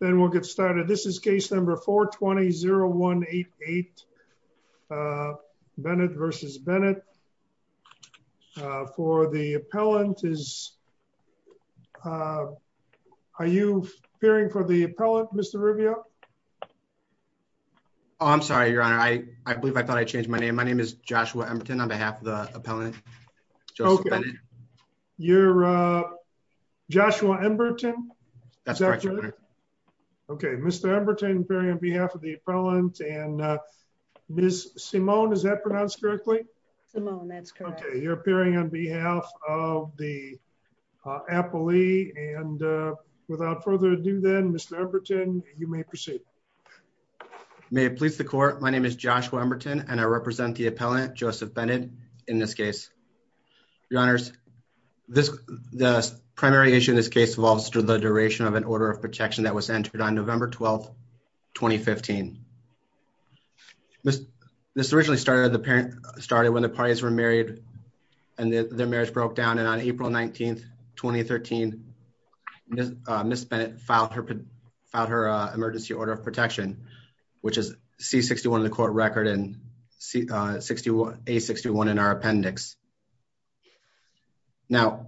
Then we'll get started. This is case number 420-0188, Bennett v. Bennett. For the appellant is, are you appearing for the appellant, Mr. Riviere? Oh, I'm sorry, your honor. I believe I thought I changed my name. My name is Joshua Emberton on behalf of the appellant. Joseph Bennett. You're Joshua Emberton? That's correct, your honor. Okay, Mr. Emberton appearing on behalf of the appellant and Ms. Simone, is that pronounced correctly? Simone, that's correct. Okay, you're appearing on behalf of the appellee and without further ado then, Mr. Emberton, you may proceed. May it please the court. My name is Joshua Emberton and I represent the appellant, Joseph Bennett in this case. Your honors, the primary issue in this case involves the duration of an order of protection that was entered on November 12th, 2015. This originally started when the parties were married and their marriage broke down. And on April 19th, 2013, Ms. Bennett filed her emergency order of protection, which is C-61 in the court record and A-61 in our appendix. Now,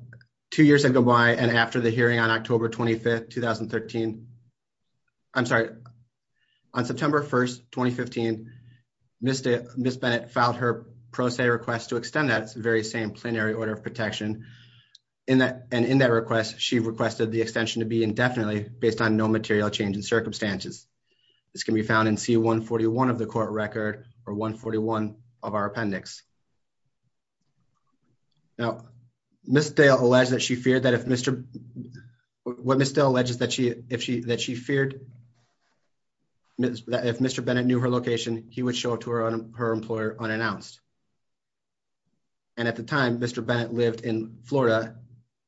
two years have gone by and after the hearing on October 25th, 2013, I'm sorry, on September 1st, 2015, Ms. Bennett filed her pro se request to extend that very same plenary order of protection. And in that request, she requested the extension to be indefinitely based on no material change in circumstances. This can be found in C-141 of the court record or 141 of our appendix. Now, Ms. Dale alleged that she feared that if Mr. Bennett knew her location, he would show it to her employer unannounced. And at the time, Mr. Bennett lived in Florida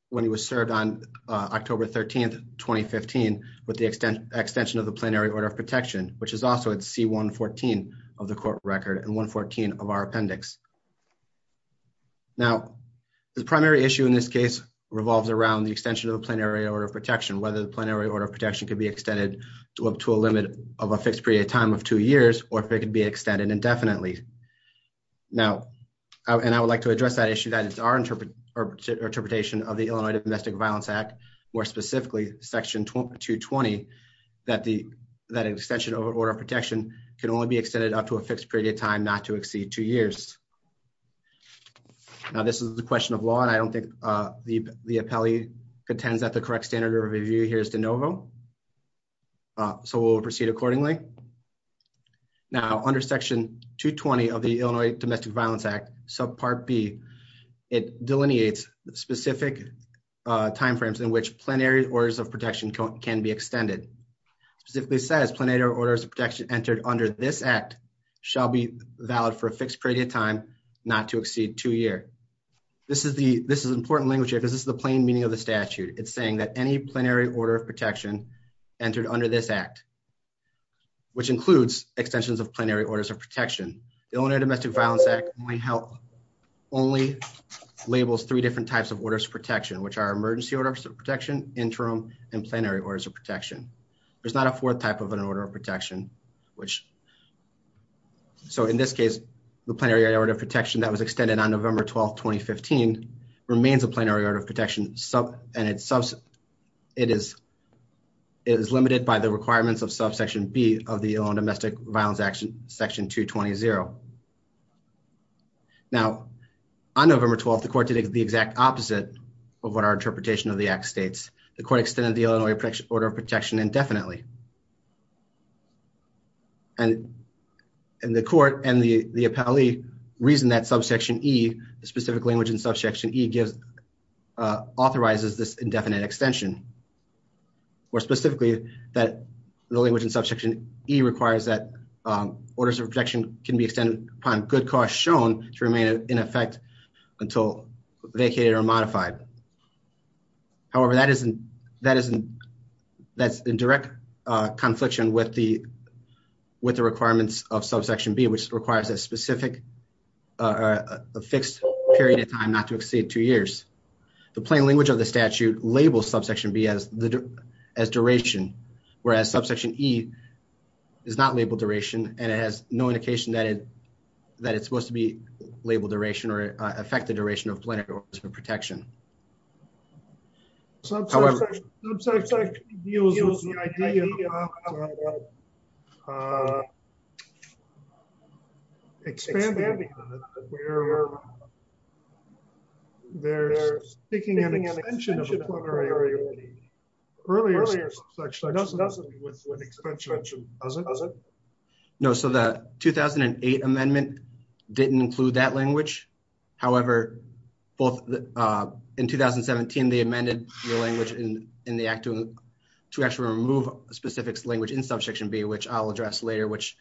when he was served on October 13th, 2015 with the extension of the plenary order of protection, which is also at C-114 of the court record and 114 of our appendix. Now, the primary issue in this case revolves around the extension of the plenary order of protection, whether the plenary order of protection could be extended to up to a limit of a fixed period of time of two years, or if it could be extended indefinitely. Now, and I would like to address that issue that is our interpretation of the Illinois Domestic Violence Act, more specifically section 220, that the extension of an order of protection can only be extended up to a fixed period of time, not to exceed two years. Now, this is a question of law and I don't think the appellee contends that the correct standard of review here is de novo. So we'll proceed accordingly. Now, under section 220 of the Illinois Domestic Violence Act, subpart B, it delineates specific timeframes in which plenary orders of protection can be extended. Specifically says plenary orders of protection entered under this act shall be valid for a fixed period of time, not to exceed two year. This is important language here because this is the plain meaning of the statute. It's saying that any plenary order of protection entered under this act, which includes extensions of plenary orders of protection. The Illinois Domestic Violence Act only labels three different types of orders of protection, which are emergency orders of protection, interim, and plenary orders of protection. There's not a fourth type of an order of protection, which, so in this case, the plenary order of protection that was extended on November 12th, 2015, remains a plenary order of protection, and it is limited by the requirements of subsection B of the Illinois Domestic Violence Act, section 220. Now, on November 12th, the court did the exact opposite of what our interpretation of the act states. The court extended the Illinois order of protection indefinitely. And the court and the appellee reason that subsection E, the specific language in subsection E gives, authorizes this indefinite extension, or specifically that the language in subsection E requires that orders of protection can be extended upon good cause shown to remain in effect until vacated or modified. However, that's in direct confliction with the requirements of subsection B, which requires a fixed period of time not to exceed two years. The plain language of the statute labels subsection B as duration, whereas subsection E is not labeled duration, and it has no indication that it's supposed to be labeled duration or affect the duration of plenary orders of protection. However- Expanding on it, we're speaking an extension of a plenary order. Earlier subsection E with an extension. Does it? No, so the 2008 amendment didn't include that language. However, in 2017, they amended the language in the act to actually remove a specific language in subsection B, which I'll address later, which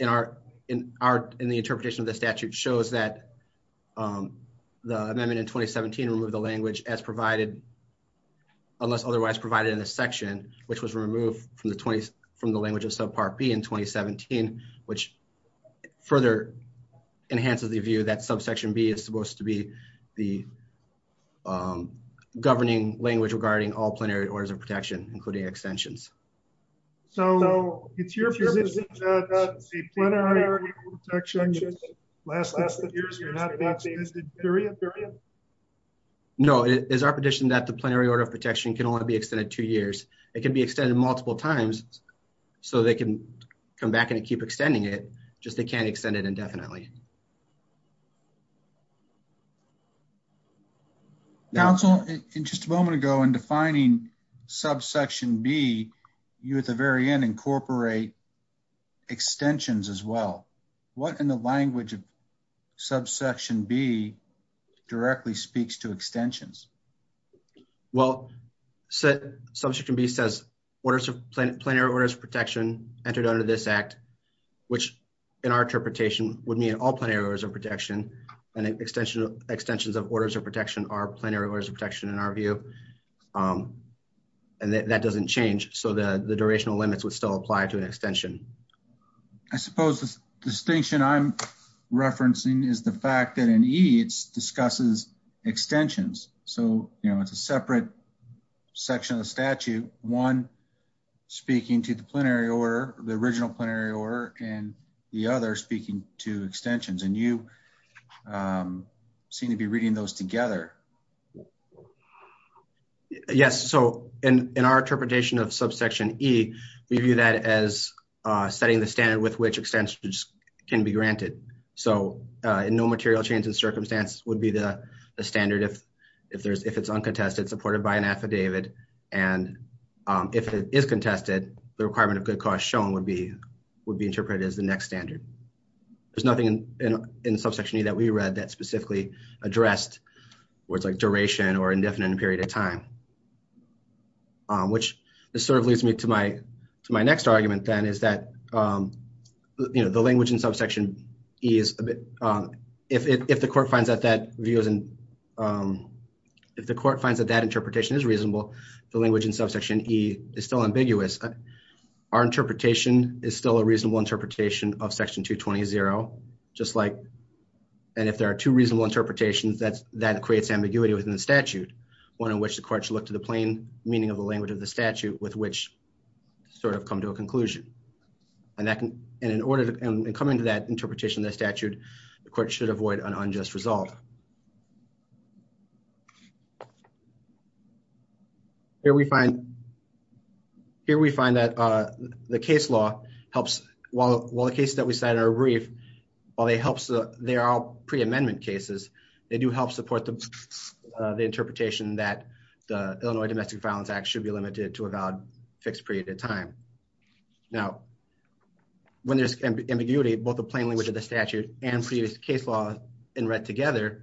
in the interpretation of the statute shows that the amendment in 2017 removed the language as provided, unless otherwise provided in a section, which was removed from the language of subpart B in 2017, which further enhances the view that subsection B is supposed to be the governing language regarding all plenary orders of protection, including extensions. So it's your position that the plenary order of protection last test of years cannot be extended period, period? No, it is our position that the plenary order of protection can only be extended two years. It can be extended multiple times so they can come back and keep extending it, just they can't extend it indefinitely. Council, in just a moment ago in defining subsection B, you at the very end incorporate extensions as well. What in the language of subsection B directly speaks to extensions? Well, subsection B says, plenary orders of protection entered under this act, only extension of the plenary order of protection. All plenary orders of protection and extensions of orders of protection are plenary orders of protection in our view. And that doesn't change. So the durational limits would still apply to an extension. I suppose the distinction I'm referencing is the fact that in EATS discusses extensions. So, you know, it's a separate section of the statute, one speaking to the plenary order, the original plenary order and the other speaking to extensions and you seem to be reading those together. Yes, so in our interpretation of subsection E, we view that as setting the standard with which extensions can be granted. So in no material change in circumstance would be the standard if it's uncontested, supported by an affidavit. And if it is contested, the requirement of good cause shown would be interpreted as the next standard. There's nothing in subsection E that we read that specifically addressed words like duration or indefinite period of time, which sort of leads me to my next argument then is that, you know, the language in subsection E is a bit, if the court finds that that interpretation is reasonable, the language in subsection E is still ambiguous. Our interpretation is still a reasonable interpretation of section 220-0, just like, and if there are two reasonable interpretations, that creates ambiguity within the statute, one in which the court should look to the plain meaning of the language of the statute with which sort of come to a conclusion. And in coming to that interpretation of the statute, the court should avoid an unjust result. Here we find, here we find that the case law helps, while the cases that we cited are brief, while they are all pre-amendment cases, they do help support the interpretation that the Illinois Domestic Violence Act should be limited to a valid fixed period of time. Now, when there's ambiguity, both the plain language of the statute and previous case law in read together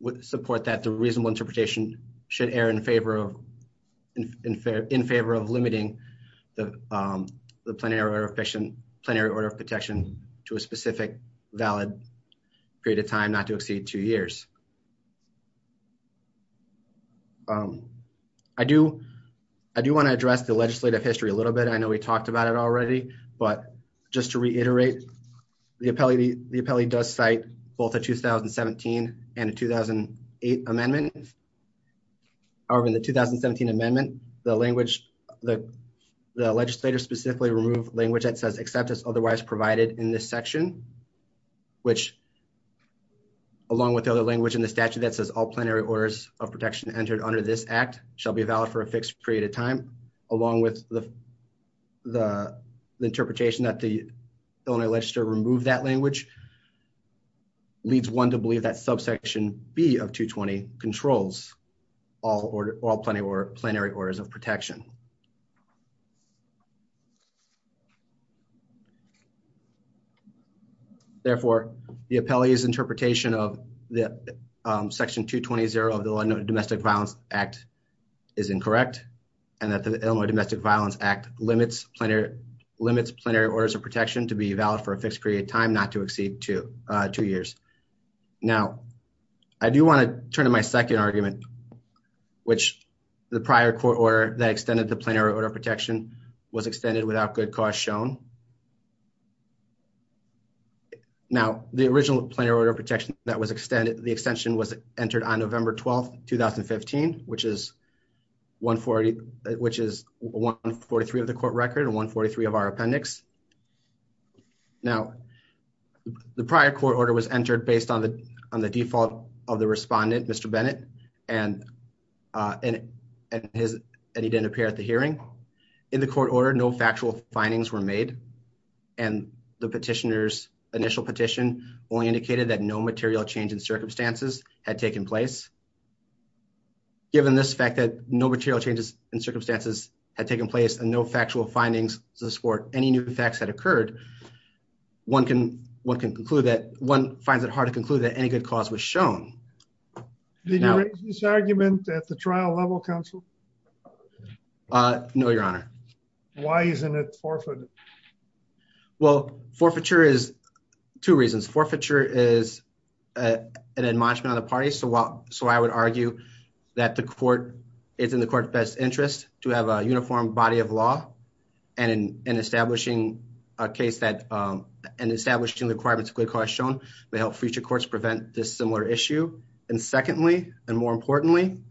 would support that the reasonable interpretation should err in favor of limiting the plenary order of protection to a specific valid period of time, not to exceed two years. I do want to address the legislative history a little bit. I know we talked about it already, but just to reiterate, the appellee does cite both a 2017 and a 2008 amendment. However, in the 2017 amendment, the language, the legislator specifically removed language that says acceptance otherwise provided in this section, which along with other language in the statute that says all plenary orders of protection entered under this act shall be valid for a fixed period of time, along with the interpretation that the Illinois legislature removed that language which leads one to believe that subsection B of 220 controls all plenary orders of protection. Therefore, the appellee's interpretation of section 220 of the Illinois Domestic Violence Act is incorrect, and that the Illinois Domestic Violence Act limits plenary orders of protection to be valid for a fixed period of time, not to exceed two years. Now, I do want to turn to my second argument, which the prior court order that extended the plenary order of protection was extended without good cause shown. Now, the original plenary order of protection that was extended, the extension was entered on November 12th, 2015, which is 143 of the court record and 143 of our appendix. Now, the prior court order was entered based on the default of the respondent, Mr. Bennett, and he didn't appear at the hearing. In the court order, no factual findings were made, and the petitioner's initial petition only indicated that no material change in circumstances had taken place. Given this fact that no material changes in circumstances had taken place and no factual findings to support any new facts that occurred, one can conclude that, one finds it hard to conclude that any good cause was shown. Now- Did you raise this argument at the trial level, counsel? No, Your Honor. Why isn't it forfeited? Well, forfeiture is, two reasons. Forfeiture is an admonishment on the party, so I would argue that the court, it's in the court's best interest to have a uniform body of law, and establishing a case that, and establishing the requirements of good cause shown may help future courts prevent this similar issue. And secondly, and more importantly,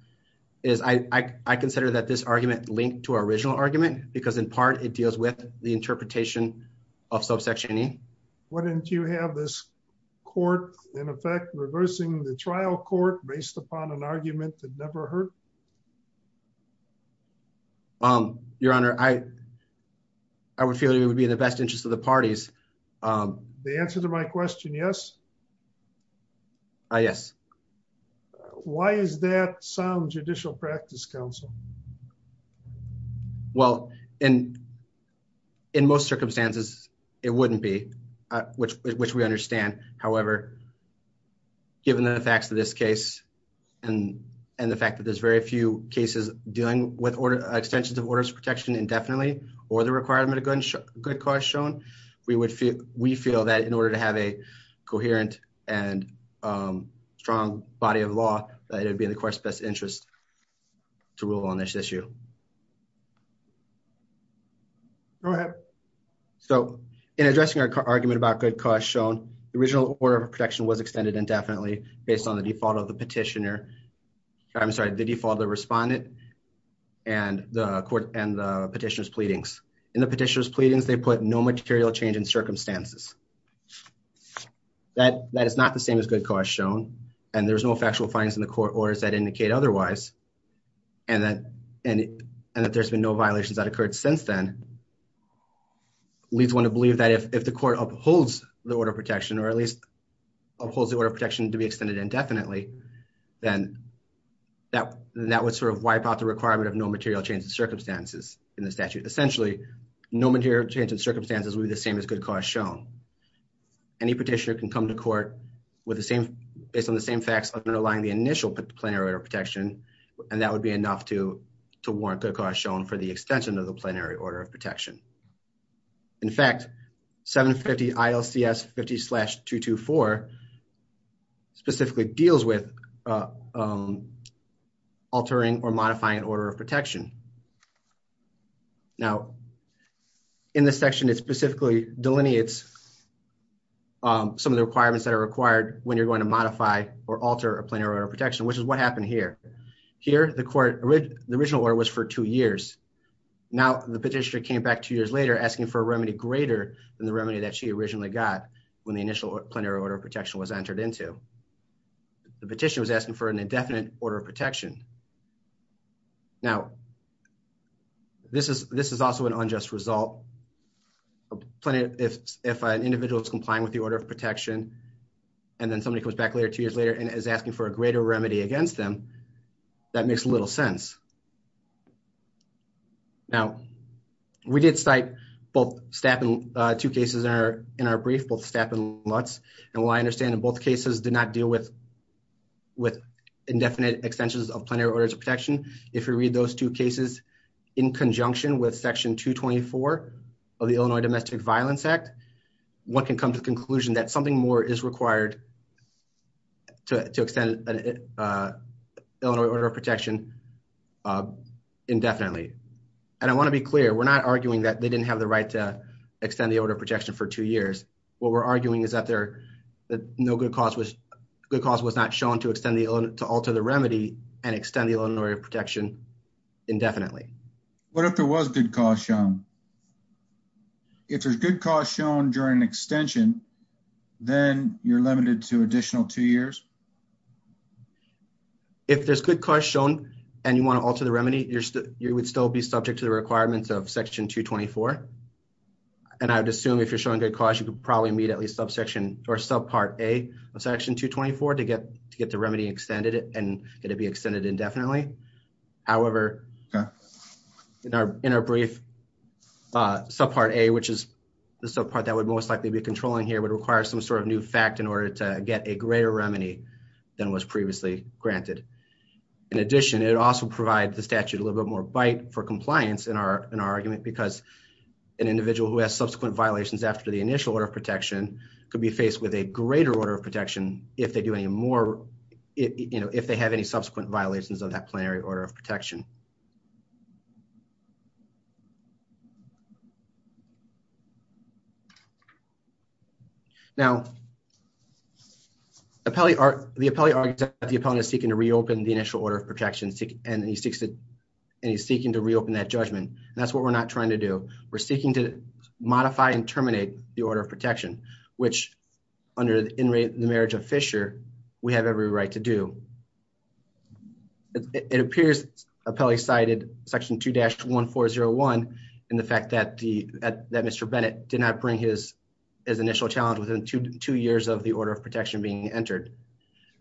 is I consider that this argument linked to our original argument, because in part, it deals with the interpretation of subsection E. Why didn't you have this court, in effect, reversing the trial court based upon an argument that never hurt? Your Honor, I would feel that it would be in the best interest of the parties. The answer to my question, yes? Yes. Why is that sound judicial practice, counsel? Well, in most circumstances, it wouldn't be, which we understand. However, given the facts of this case, and the fact that there's very little evidence of it, very few cases dealing with extensions of orders of protection indefinitely, or the requirement of good cause shown, we feel that in order to have a coherent and strong body of law, that it would be in the court's best interest to rule on this issue. Go ahead. So, in addressing our argument about good cause shown, the original order of protection was extended indefinitely based on the default of the petitioner, I'm sorry, the default of the respondent, and the petitioner's pleadings. In the petitioner's pleadings, they put no material change in circumstances. That is not the same as good cause shown, and there's no factual findings in the court or as that indicate otherwise, and that there's been no violations that occurred since then leads one to believe that if the court upholds the order of protection, or at least upholds the order of protection to be extended indefinitely, then that would sort of wipe out the requirement of no material change in circumstances in the statute. Essentially, no material change in circumstances would be the same as good cause shown. Any petitioner can come to court based on the same facts underlying the initial plenary order of protection, and that would be enough to warrant good cause shown for the extension of the plenary order of protection. In fact, 750 ILCS 50-224 specifically deals with altering or modifying an order of protection. Now, in this section, it specifically delineates some of the requirements that are required when you're going to modify or alter a plenary order of protection, which is what happened here. Here, the original order was for two years. Now, the petitioner came back two years later asking for a remedy greater than the remedy that she originally got when the initial plenary order of protection was entered into. The petitioner was asking for an indefinite order of protection. Now, this is also an unjust result. If an individual is complying with the order of protection, and then somebody comes back later, two years later, and is asking for a greater remedy against them, that makes little sense. Now, we did cite both staff in two cases in our brief, both staff and Lutz. And while I understand that both cases did not deal with indefinite extensions of plenary orders of protection, if you read those two cases in conjunction with section 224 of the Illinois Domestic Violence Act, one can come to the conclusion that something more is required to extend an Illinois order of protection indefinitely. And I want to be clear, we're not arguing that they didn't have the right to extend the order of protection for two years. What we're arguing is that no good cause was not shown to alter the remedy and extend the Illinois order of protection indefinitely. What if there was good cause shown? If there's good cause shown during an extension, then you're limited to additional two years? If there's good cause shown and you want to alter the remedy, you would still be subject to the requirements of section 224. And I would assume if you're showing good cause, you could probably meet at least subsection or subpart A of section 224 to get the remedy extended and it'd be extended indefinitely. However, in our brief subpart A, which is the subpart that would most likely be controlling here, would require some sort of new fact in order to get a greater remedy than was previously granted. In addition, it also provides the statute a little bit more bite for compliance in our argument because an individual who has subsequent violations after the initial order of protection could be faced with a greater order of protection if they have any subsequent violations of that plenary order of protection. Now, the appellee argues that the appellant is seeking to reopen the initial order of protection and he's seeking to reopen that judgment. That's what we're not trying to do. We're seeking to modify and terminate the order of protection, which under the marriage of Fisher, we have every right to do. It appears appellee cited section 2-1401 in the fact that Mr. Bennett did not bring his initial challenge within two years of the order of protection being entered.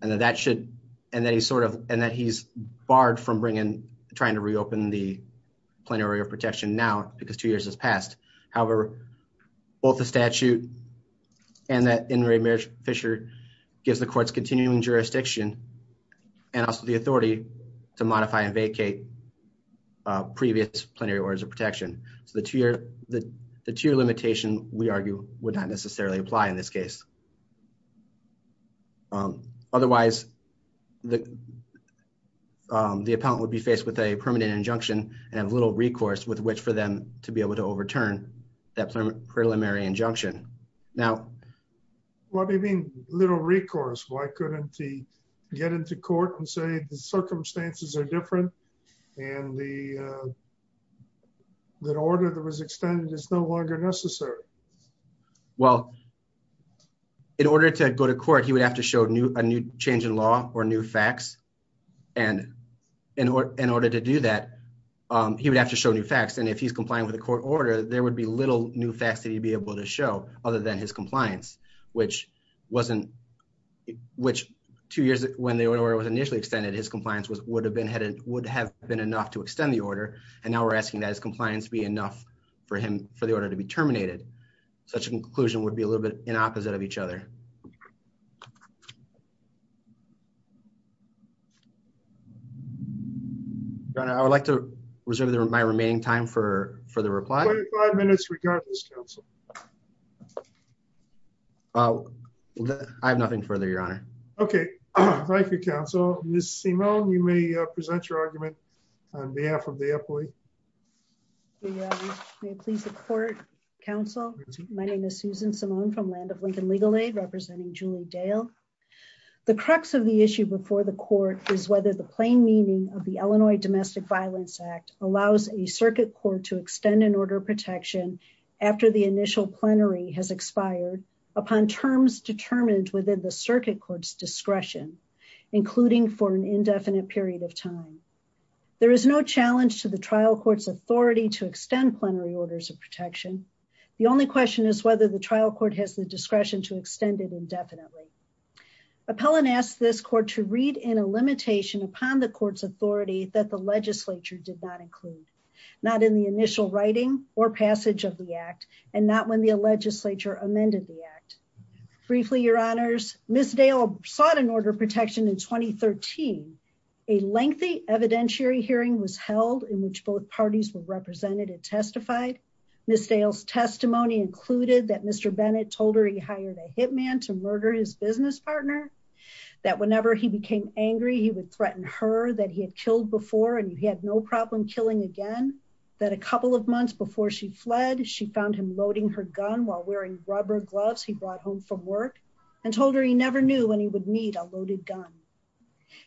And that he's barred from trying to reopen the plenary order of protection now because two years has passed. However, both the statute and that in marriage of Fisher gives the courts continuing jurisdiction and also the authority to modify and vacate previous plenary orders of protection. So the two-year limitation, we argue, would not necessarily apply in this case. Otherwise, the appellant would be faced with a permanent injunction and have little recourse with which for them to be able to overturn that preliminary injunction. Now- What do you mean little recourse? Why couldn't he get into court and say, the circumstances are different and the order that was extended is no longer necessary? Well, in order to go to court, he would have to show a new change in law or new facts. And in order to do that, he would have to show new facts. And if he's complying with the court order, there would be little new facts that he'd be able to show other than his compliance, which wasn't, which two years when the order was initially extended, his compliance would have been enough to extend the order. And now we're asking that his compliance be enough for the order to be terminated. Such a conclusion would be a little bit in opposite of each other. Thank you. Your Honor, I would like to reserve my remaining time for the reply. 25 minutes regardless, counsel. I have nothing further, your Honor. Okay. Thank you, counsel. Ms. Simone, you may present your argument on behalf of the employee. May it please the court, counsel. My name is Susan Simone from Land of Lincoln Legal Aid, representing Julie Dale. The crux of the issue before the court is whether the plain meaning of the Illinois Domestic Violence Act allows a circuit court to extend an order of protection after the initial plenary has expired upon terms determined within the circuit court's discretion, including for an indefinite period of time. There is no challenge to the trial court's authority to extend plenary orders of protection. The only question is whether the trial court has the discretion to extend it indefinitely. Appellant asked this court to read in a limitation upon the court's authority that the legislature did not include, not in the initial writing or passage of the act, and not when the legislature amended the act. Briefly, your honors, Ms. Dale sought an order of protection in 2013. A lengthy evidentiary hearing was held in which both parties were represented and testified. Ms. Dale's testimony included that Mr. Bennett told her he hired a hitman to murder his business partner, that whenever he became angry, he would threaten her that he had killed before and he had no problem killing again, that a couple of months before she fled, she found him loading her gun while wearing rubber gloves he brought home from work and told her he never knew when he would need a loaded gun.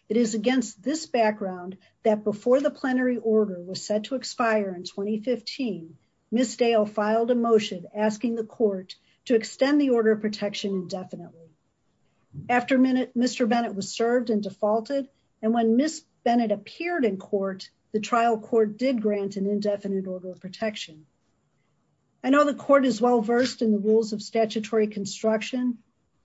It is against this background that before the plenary order was set to expire in 2015, Ms. Dale filed a motion asking the court to extend the order of protection indefinitely. After Mr. Bennett was served and defaulted, and when Ms. Bennett appeared in court, the trial court did grant an indefinite order of protection. I know the court is well-versed in the rules of statutory construction.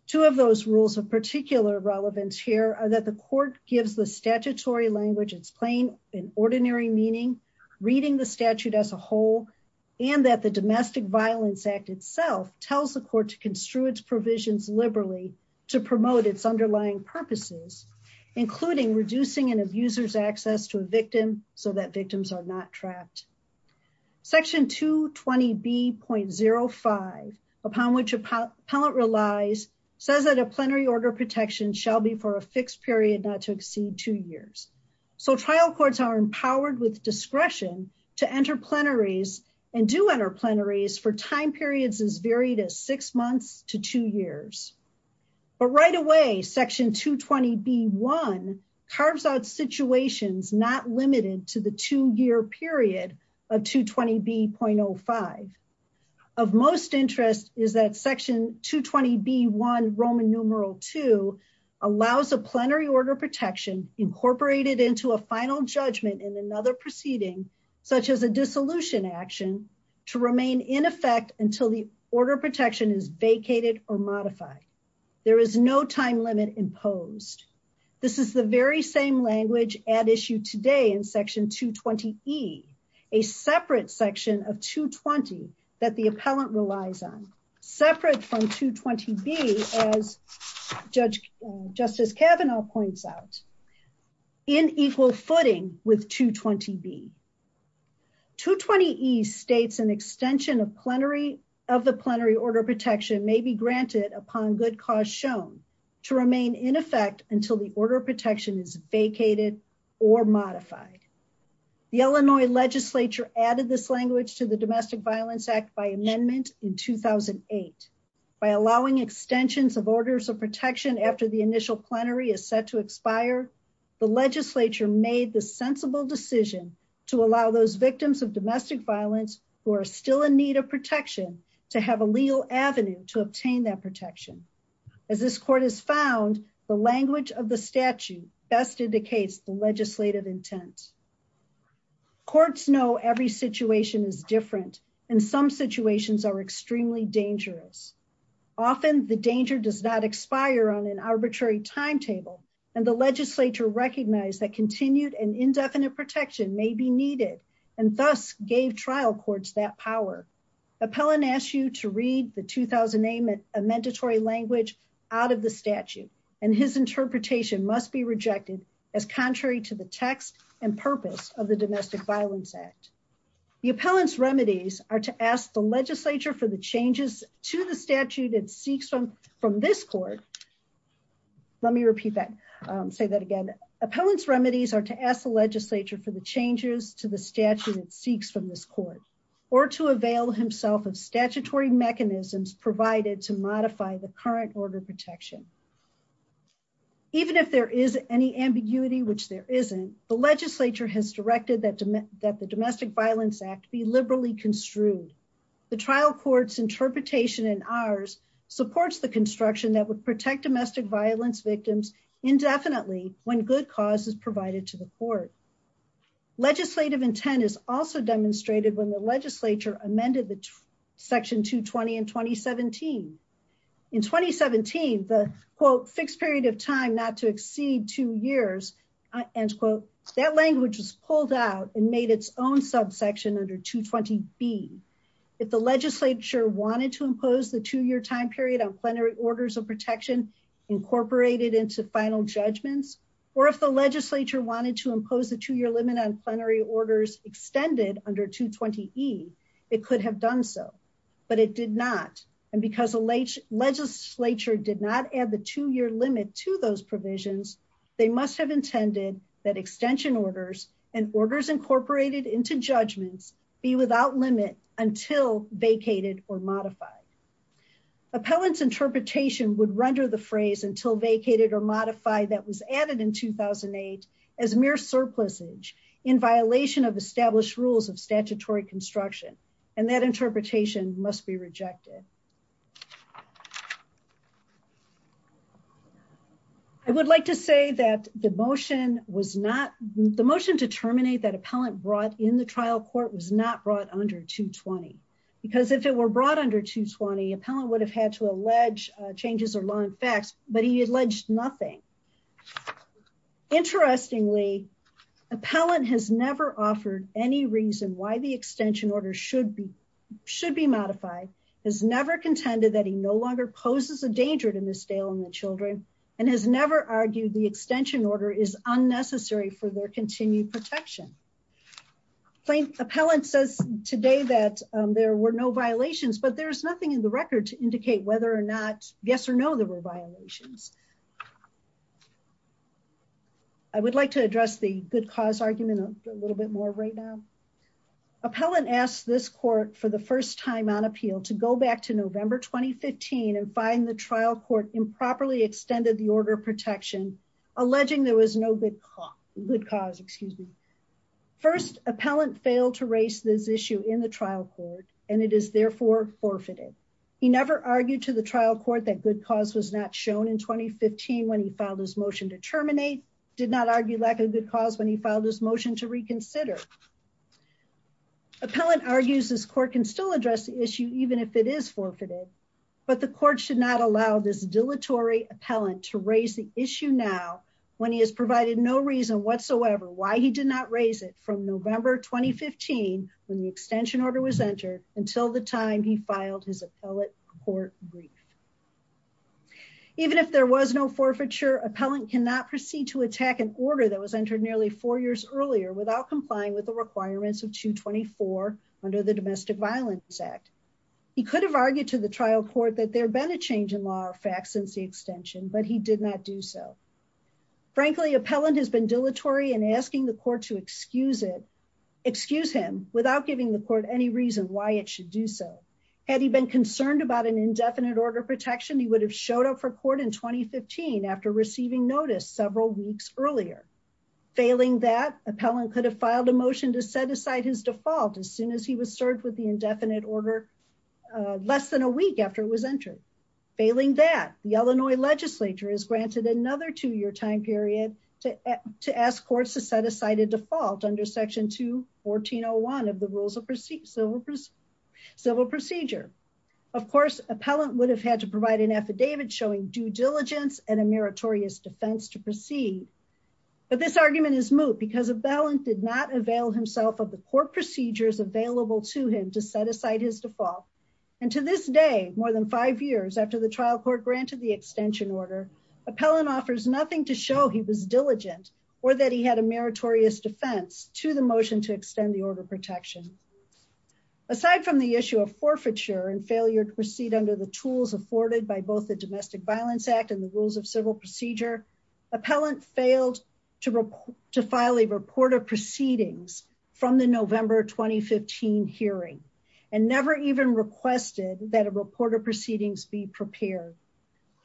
Two of those rules of particular relevance here are that the court gives the statutory language in ordinary meaning, reading the statute as a whole, and that the Domestic Violence Act itself tells the court to construe its provisions liberally to promote its underlying purposes, including reducing an abuser's access to a victim so that victims are not trapped. Section 220B.05, upon which appellant relies, says that a plenary order of protection shall be for a fixed period not to exceed two years. So trial courts are empowered with discretion to enter plenaries and do enter plenaries for time periods as varied as six months to two years. But right away, Section 220B.1 carves out situations not limited to the two-year period of 220B.05. Of most interest is that Section 220B.1, Roman numeral II, allows a plenary order of protection incorporated into a final judgment in another proceeding, such as a dissolution action, to remain in effect until the order of protection is vacated or modified. There is no time limit imposed. This is the very same language at issue today in Section 220E, a separate section of 220 that the appellant relies on, separate from 220B as Justice Kavanaugh points out. In equal footing with 220B. 220E states an extension of the plenary order of protection may be granted upon good cause shown to remain in effect until the order of protection is vacated or modified. The Illinois legislature added this language to the Domestic Violence Act by amendment in 2008 by allowing extensions of orders of protection after the initial plenary is set to expire. The legislature made the sensible decision to allow those victims of domestic violence who are still in need of protection to have a legal avenue to obtain that protection. As this court has found, the language of the statute best indicates the legislative intent. Courts know every situation is different and some situations are extremely dangerous. Often the danger does not expire on an arbitrary timetable and the legislature recognized that continued and indefinite protection may be needed and thus gave trial courts that power. Appellant asks you to read the 2008 amendment a mandatory language out of the statute and his interpretation must be rejected as contrary to the text and purpose of the Domestic Violence Act. The appellant's remedies are to ask the legislature for the changes to the statute it seeks from this court. Let me repeat that, say that again. Appellant's remedies are to ask the legislature for the changes to the statute it seeks from this court or to avail himself of statutory mechanisms provided to modify the current order of protection. Even if there is any ambiguity, which there isn't, the legislature has directed that the Domestic Violence Act be liberally construed. The trial court's interpretation and ours supports the construction that would protect domestic violence victims indefinitely when good cause is provided to the court. Legislative intent is also demonstrated when the legislature amended the section 220 in 2017. In 2017, the quote, fixed period of time not to exceed two years and quote, that language was pulled out and made its own subsection under 220B. If the legislature wanted to impose the two-year time period on plenary orders of protection incorporated into final judgments, or if the legislature wanted to impose the two-year limit on plenary orders extended under 220E, it could have done so, but it did not. And because the legislature did not add the two-year limit to those provisions, they must have intended that extension orders and orders incorporated into judgments be without limit until vacated or modified. Appellant's interpretation would render the phrase until vacated or modified that was added in 2008 as mere surplusage in violation of established rules of statutory construction. And that interpretation must be rejected. I would like to say that the motion was not, the motion to terminate that appellant brought in the trial court was not brought under 220. Because if it were brought under 220, appellant would have had to allege changes or long facts, but he alleged nothing. Interestingly, appellant has never offered any reason why the extension order should be modified, has never offered any reason and has never contended that he no longer poses a danger to Ms. Dale and the children, and has never argued the extension order is unnecessary for their continued protection. Appellant says today that there were no violations, but there's nothing in the record to indicate whether or not, yes or no, there were violations. I would like to address the good cause argument a little bit more right now. Appellant asked this court for the first time on appeal to go back to November, 2015 and find the trial court improperly extended the order of protection, alleging there was no good cause, excuse me. First, appellant failed to raise this issue in the trial court, and it is therefore forfeited. He never argued to the trial court that good cause was not shown in 2015 when he filed his motion to terminate, did not argue lack of good cause when he filed his motion to reconsider. Appellant argues this court can still address the issue even if it is forfeited, but the court should not allow this dilatory appellant to raise the issue now when he has provided no reason whatsoever why he did not raise it from November, 2015 when the extension order was entered until the time he filed his appellate court brief. Even if there was no forfeiture, appellant cannot proceed to attack an order that was entered nearly four years earlier without complying with the requirements of 224 under the Domestic Violence Act. He could have argued to the trial court that there had been a change in law or facts since the extension, but he did not do so. Frankly, appellant has been dilatory in asking the court to excuse him without giving the court any reason why it should do so. Had he been concerned about an indefinite order protection, he would have showed up for court in 2015 Failing that, appellant could have filed a motion to set aside his default as soon as he was served with the indefinite order less than a week after it was entered. Failing that, the Illinois legislature has granted another two-year time period to ask courts to set aside a default under section 214.01 of the Rules of Civil Procedure. Of course, appellant would have had to provide an affidavit but this argument is moot because appellant did not avail himself of the court procedures available to him to set aside his default. And to this day, more than five years after the trial court granted the extension order, appellant offers nothing to show he was diligent or that he had a meritorious defense to the motion to extend the order protection. Aside from the issue of forfeiture and failure to proceed under the tools afforded by both the Domestic Violence Act and the Rules of Civil Procedure, appellant failed to file a report of proceedings from the November 2015 hearing and never even requested that a report of proceedings be prepared.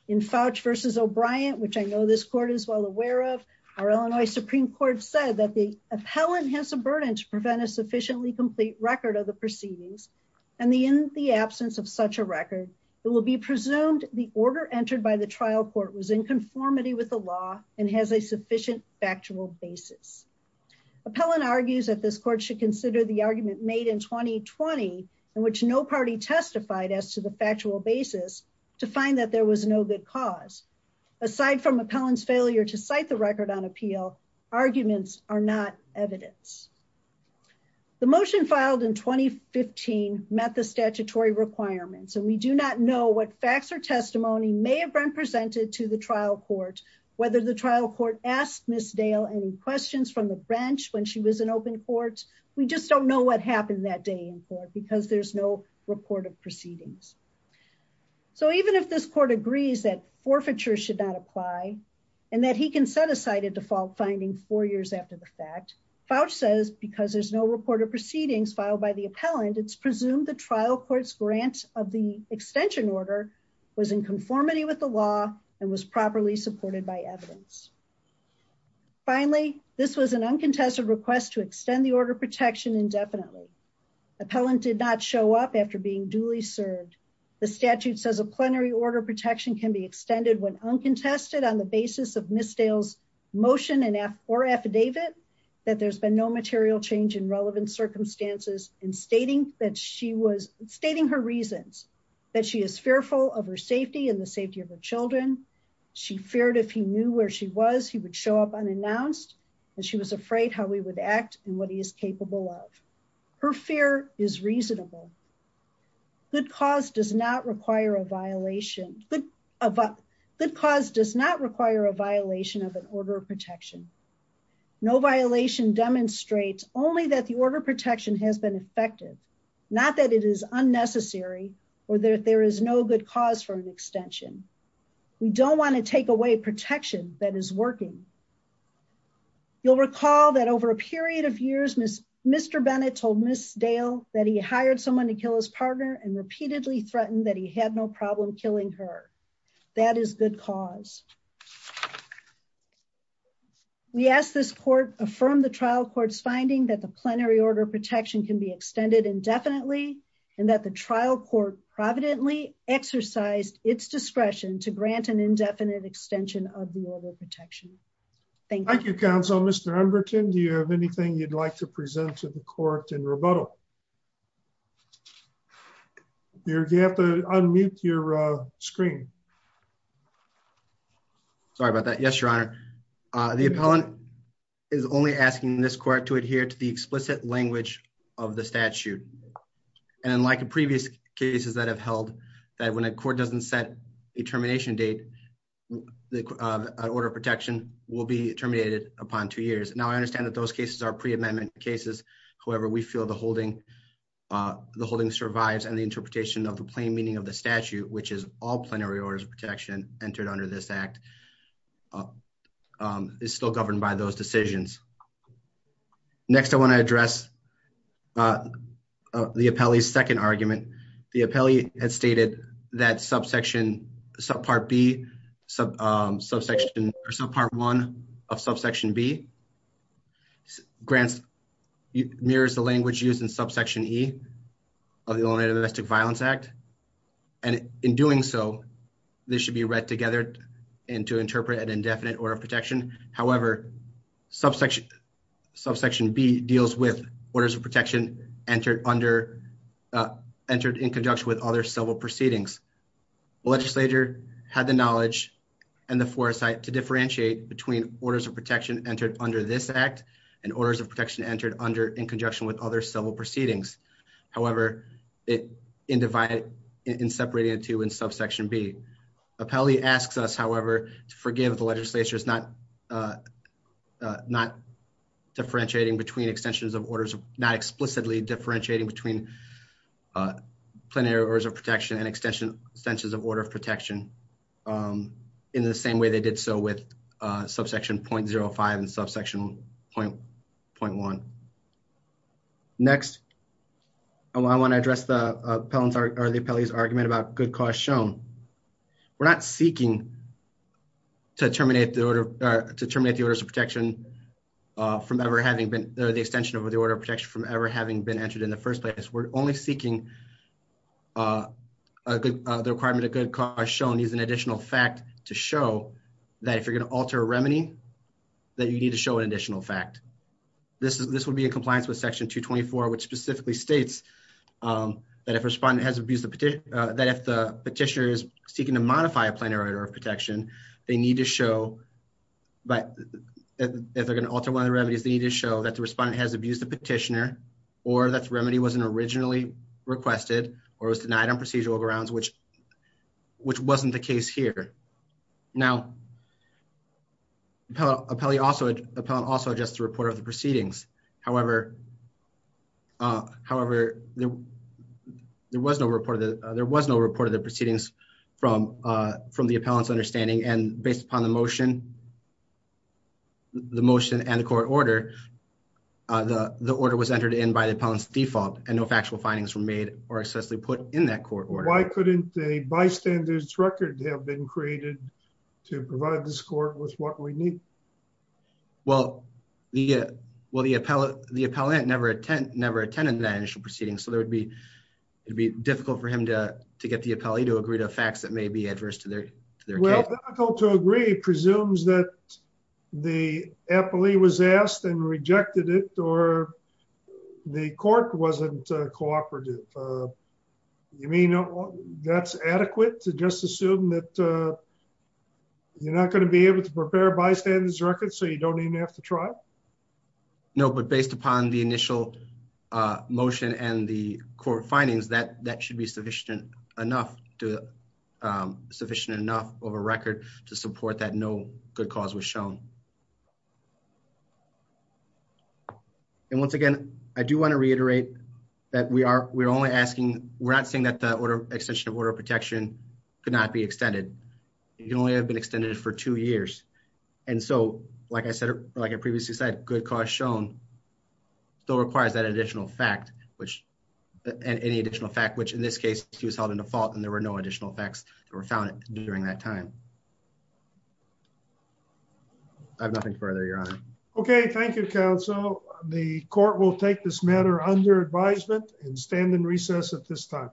In Fouch v. O'Brien, which I know this court is well aware of, our Illinois Supreme Court said that the appellant has a burden to prevent a sufficiently complete record of the proceedings and in the absence of such a record, it will be presumed the order entered by the trial court was in conformity with the law and has a sufficient factual basis. Appellant argues that this court should consider the argument made in 2020 in which no party testified as to the factual basis to find that there was no good cause. Aside from appellant's failure to cite the record on appeal, arguments are not evidence. The motion filed in 2015 met the statutory requirements and we do not know what facts or testimony may have been presented to the trial court, whether the trial court asked Ms. Dale any questions from the branch when she was in open court, we just don't know what happened that day in court because there's no report of proceedings. So even if this court agrees that forfeiture should not apply and that he can set aside a default finding four years after the fact, Fouch says because there's no report of proceedings filed by the appellant, it's presumed the trial court's grant of the extension order was in conformity with the law and was properly supported by evidence. Finally, this was an uncontested request to extend the order protection indefinitely. Appellant did not show up after being duly served. The statute says a plenary order protection can be extended when uncontested on the basis of Ms. Dale's motion or affidavit that there's been no material change in relevant circumstances and stating her reasons, that she is fearful of her safety and the safety of her children. She feared if he knew where she was, he would show up unannounced and she was afraid how he would act and what he is capable of. Her fear is reasonable. Good cause does not require a violation of an order of protection. No violation demonstrates only that the order of protection has been effective, not that it is unnecessary or that there is no good cause for an extension. We don't wanna take away protection that is working. You'll recall that over a period of years, Mr. Bennett told Ms. Dale that he hired someone to kill his partner and repeatedly threatened that he had no problem killing her. That is good cause. We ask this court affirm the trial court's finding that the plenary order of protection can be extended indefinitely and that the trial court providently exercised its discretion to grant an indefinite extension of the order of protection. Thank you. Thank you, counsel. Mr. Umberton, do you have anything you'd like to present to the court in rebuttal? You have to unmute your screen. Sorry about that. Yes, your honor. The appellant is only asking this court to adhere to the explicit language of the statute. And like in previous cases that have held that when a court doesn't set a termination date, the order of protection will be terminated upon two years. Now I understand that those cases are pre-amendment cases. However, we feel the holding survives and the interpretation of the plain meaning of the statute, which is all plenary orders of protection entered under this act is still governed by those decisions. Next, I wanna address the appellee's second argument. The appellee had stated that subsection, subpart B, subsection, or subpart one of subsection B grants, mirrors the language used in subsection E of the Illinois Domestic Violence Act. And in doing so, this should be read together and to interpret an indefinite order of protection. However, subsection B deals with orders of protection entered in conjunction with other civil proceedings. The legislature had the knowledge and the foresight to differentiate between orders of protection entered under this act and orders of protection entered under in conjunction with other civil proceedings. However, in separating the two in subsection B. Appellee asks us, however, to forgive the legislature's not differentiating between extensions of orders, not explicitly differentiating between plenary orders of protection and extensions of order of protection in the same way they did so with subsection 0.05 and subsection 0.1. Next, I wanna address the appellee's argument about good cause shown. We're not seeking to terminate the order, to terminate the orders of protection from ever having been, the extension of the order of protection from ever having been entered in the first place. We're only seeking the requirement of good cause shown is an additional fact to show that if you're gonna alter a remedy, that you need to show an additional fact. This would be in compliance with section 224, which specifically states that if respondent has abused the petition, and the legislature is seeking to modify a plenary order of protection, they need to show, if they're gonna alter one of the remedies, they need to show that the respondent has abused the petitioner, or that the remedy wasn't originally requested or was denied on procedural grounds, which wasn't the case here. Now, appellate also adjusts the report of the proceedings. However, there was no report of the proceedings from the appellant's understanding. And based upon the motion, the motion and the court order, the order was entered in by the appellant's default, and no factual findings were made or excessively put in that court order. Why couldn't a bystander's record have been created to provide this court with what we need? Well, the appellant never attended that initial proceeding, so it'd be difficult for him to get the appellee to agree to facts that may be adverse to their case. Well, difficult to agree presumes that the appellee was asked and rejected it, or the court wasn't cooperative. You mean that's adequate to just assume that you're not gonna be able to prepare a bystander's record so you don't even have to try? No, but based upon the initial motion and the court findings, that should be sufficient enough of a record to support that no good cause was shown. And once again, I do wanna reiterate that we're not saying that the extension of order of protection could not be extended. It can only have been extended for two years. And so, like I previously said, good cause shown still requires that additional fact, which any additional fact, which in this case, he was held in default and there were no additional facts that were found during that time. I have nothing further, Your Honor. Okay, thank you, counsel. The court will take this matter under advisement and stand in recess at this time.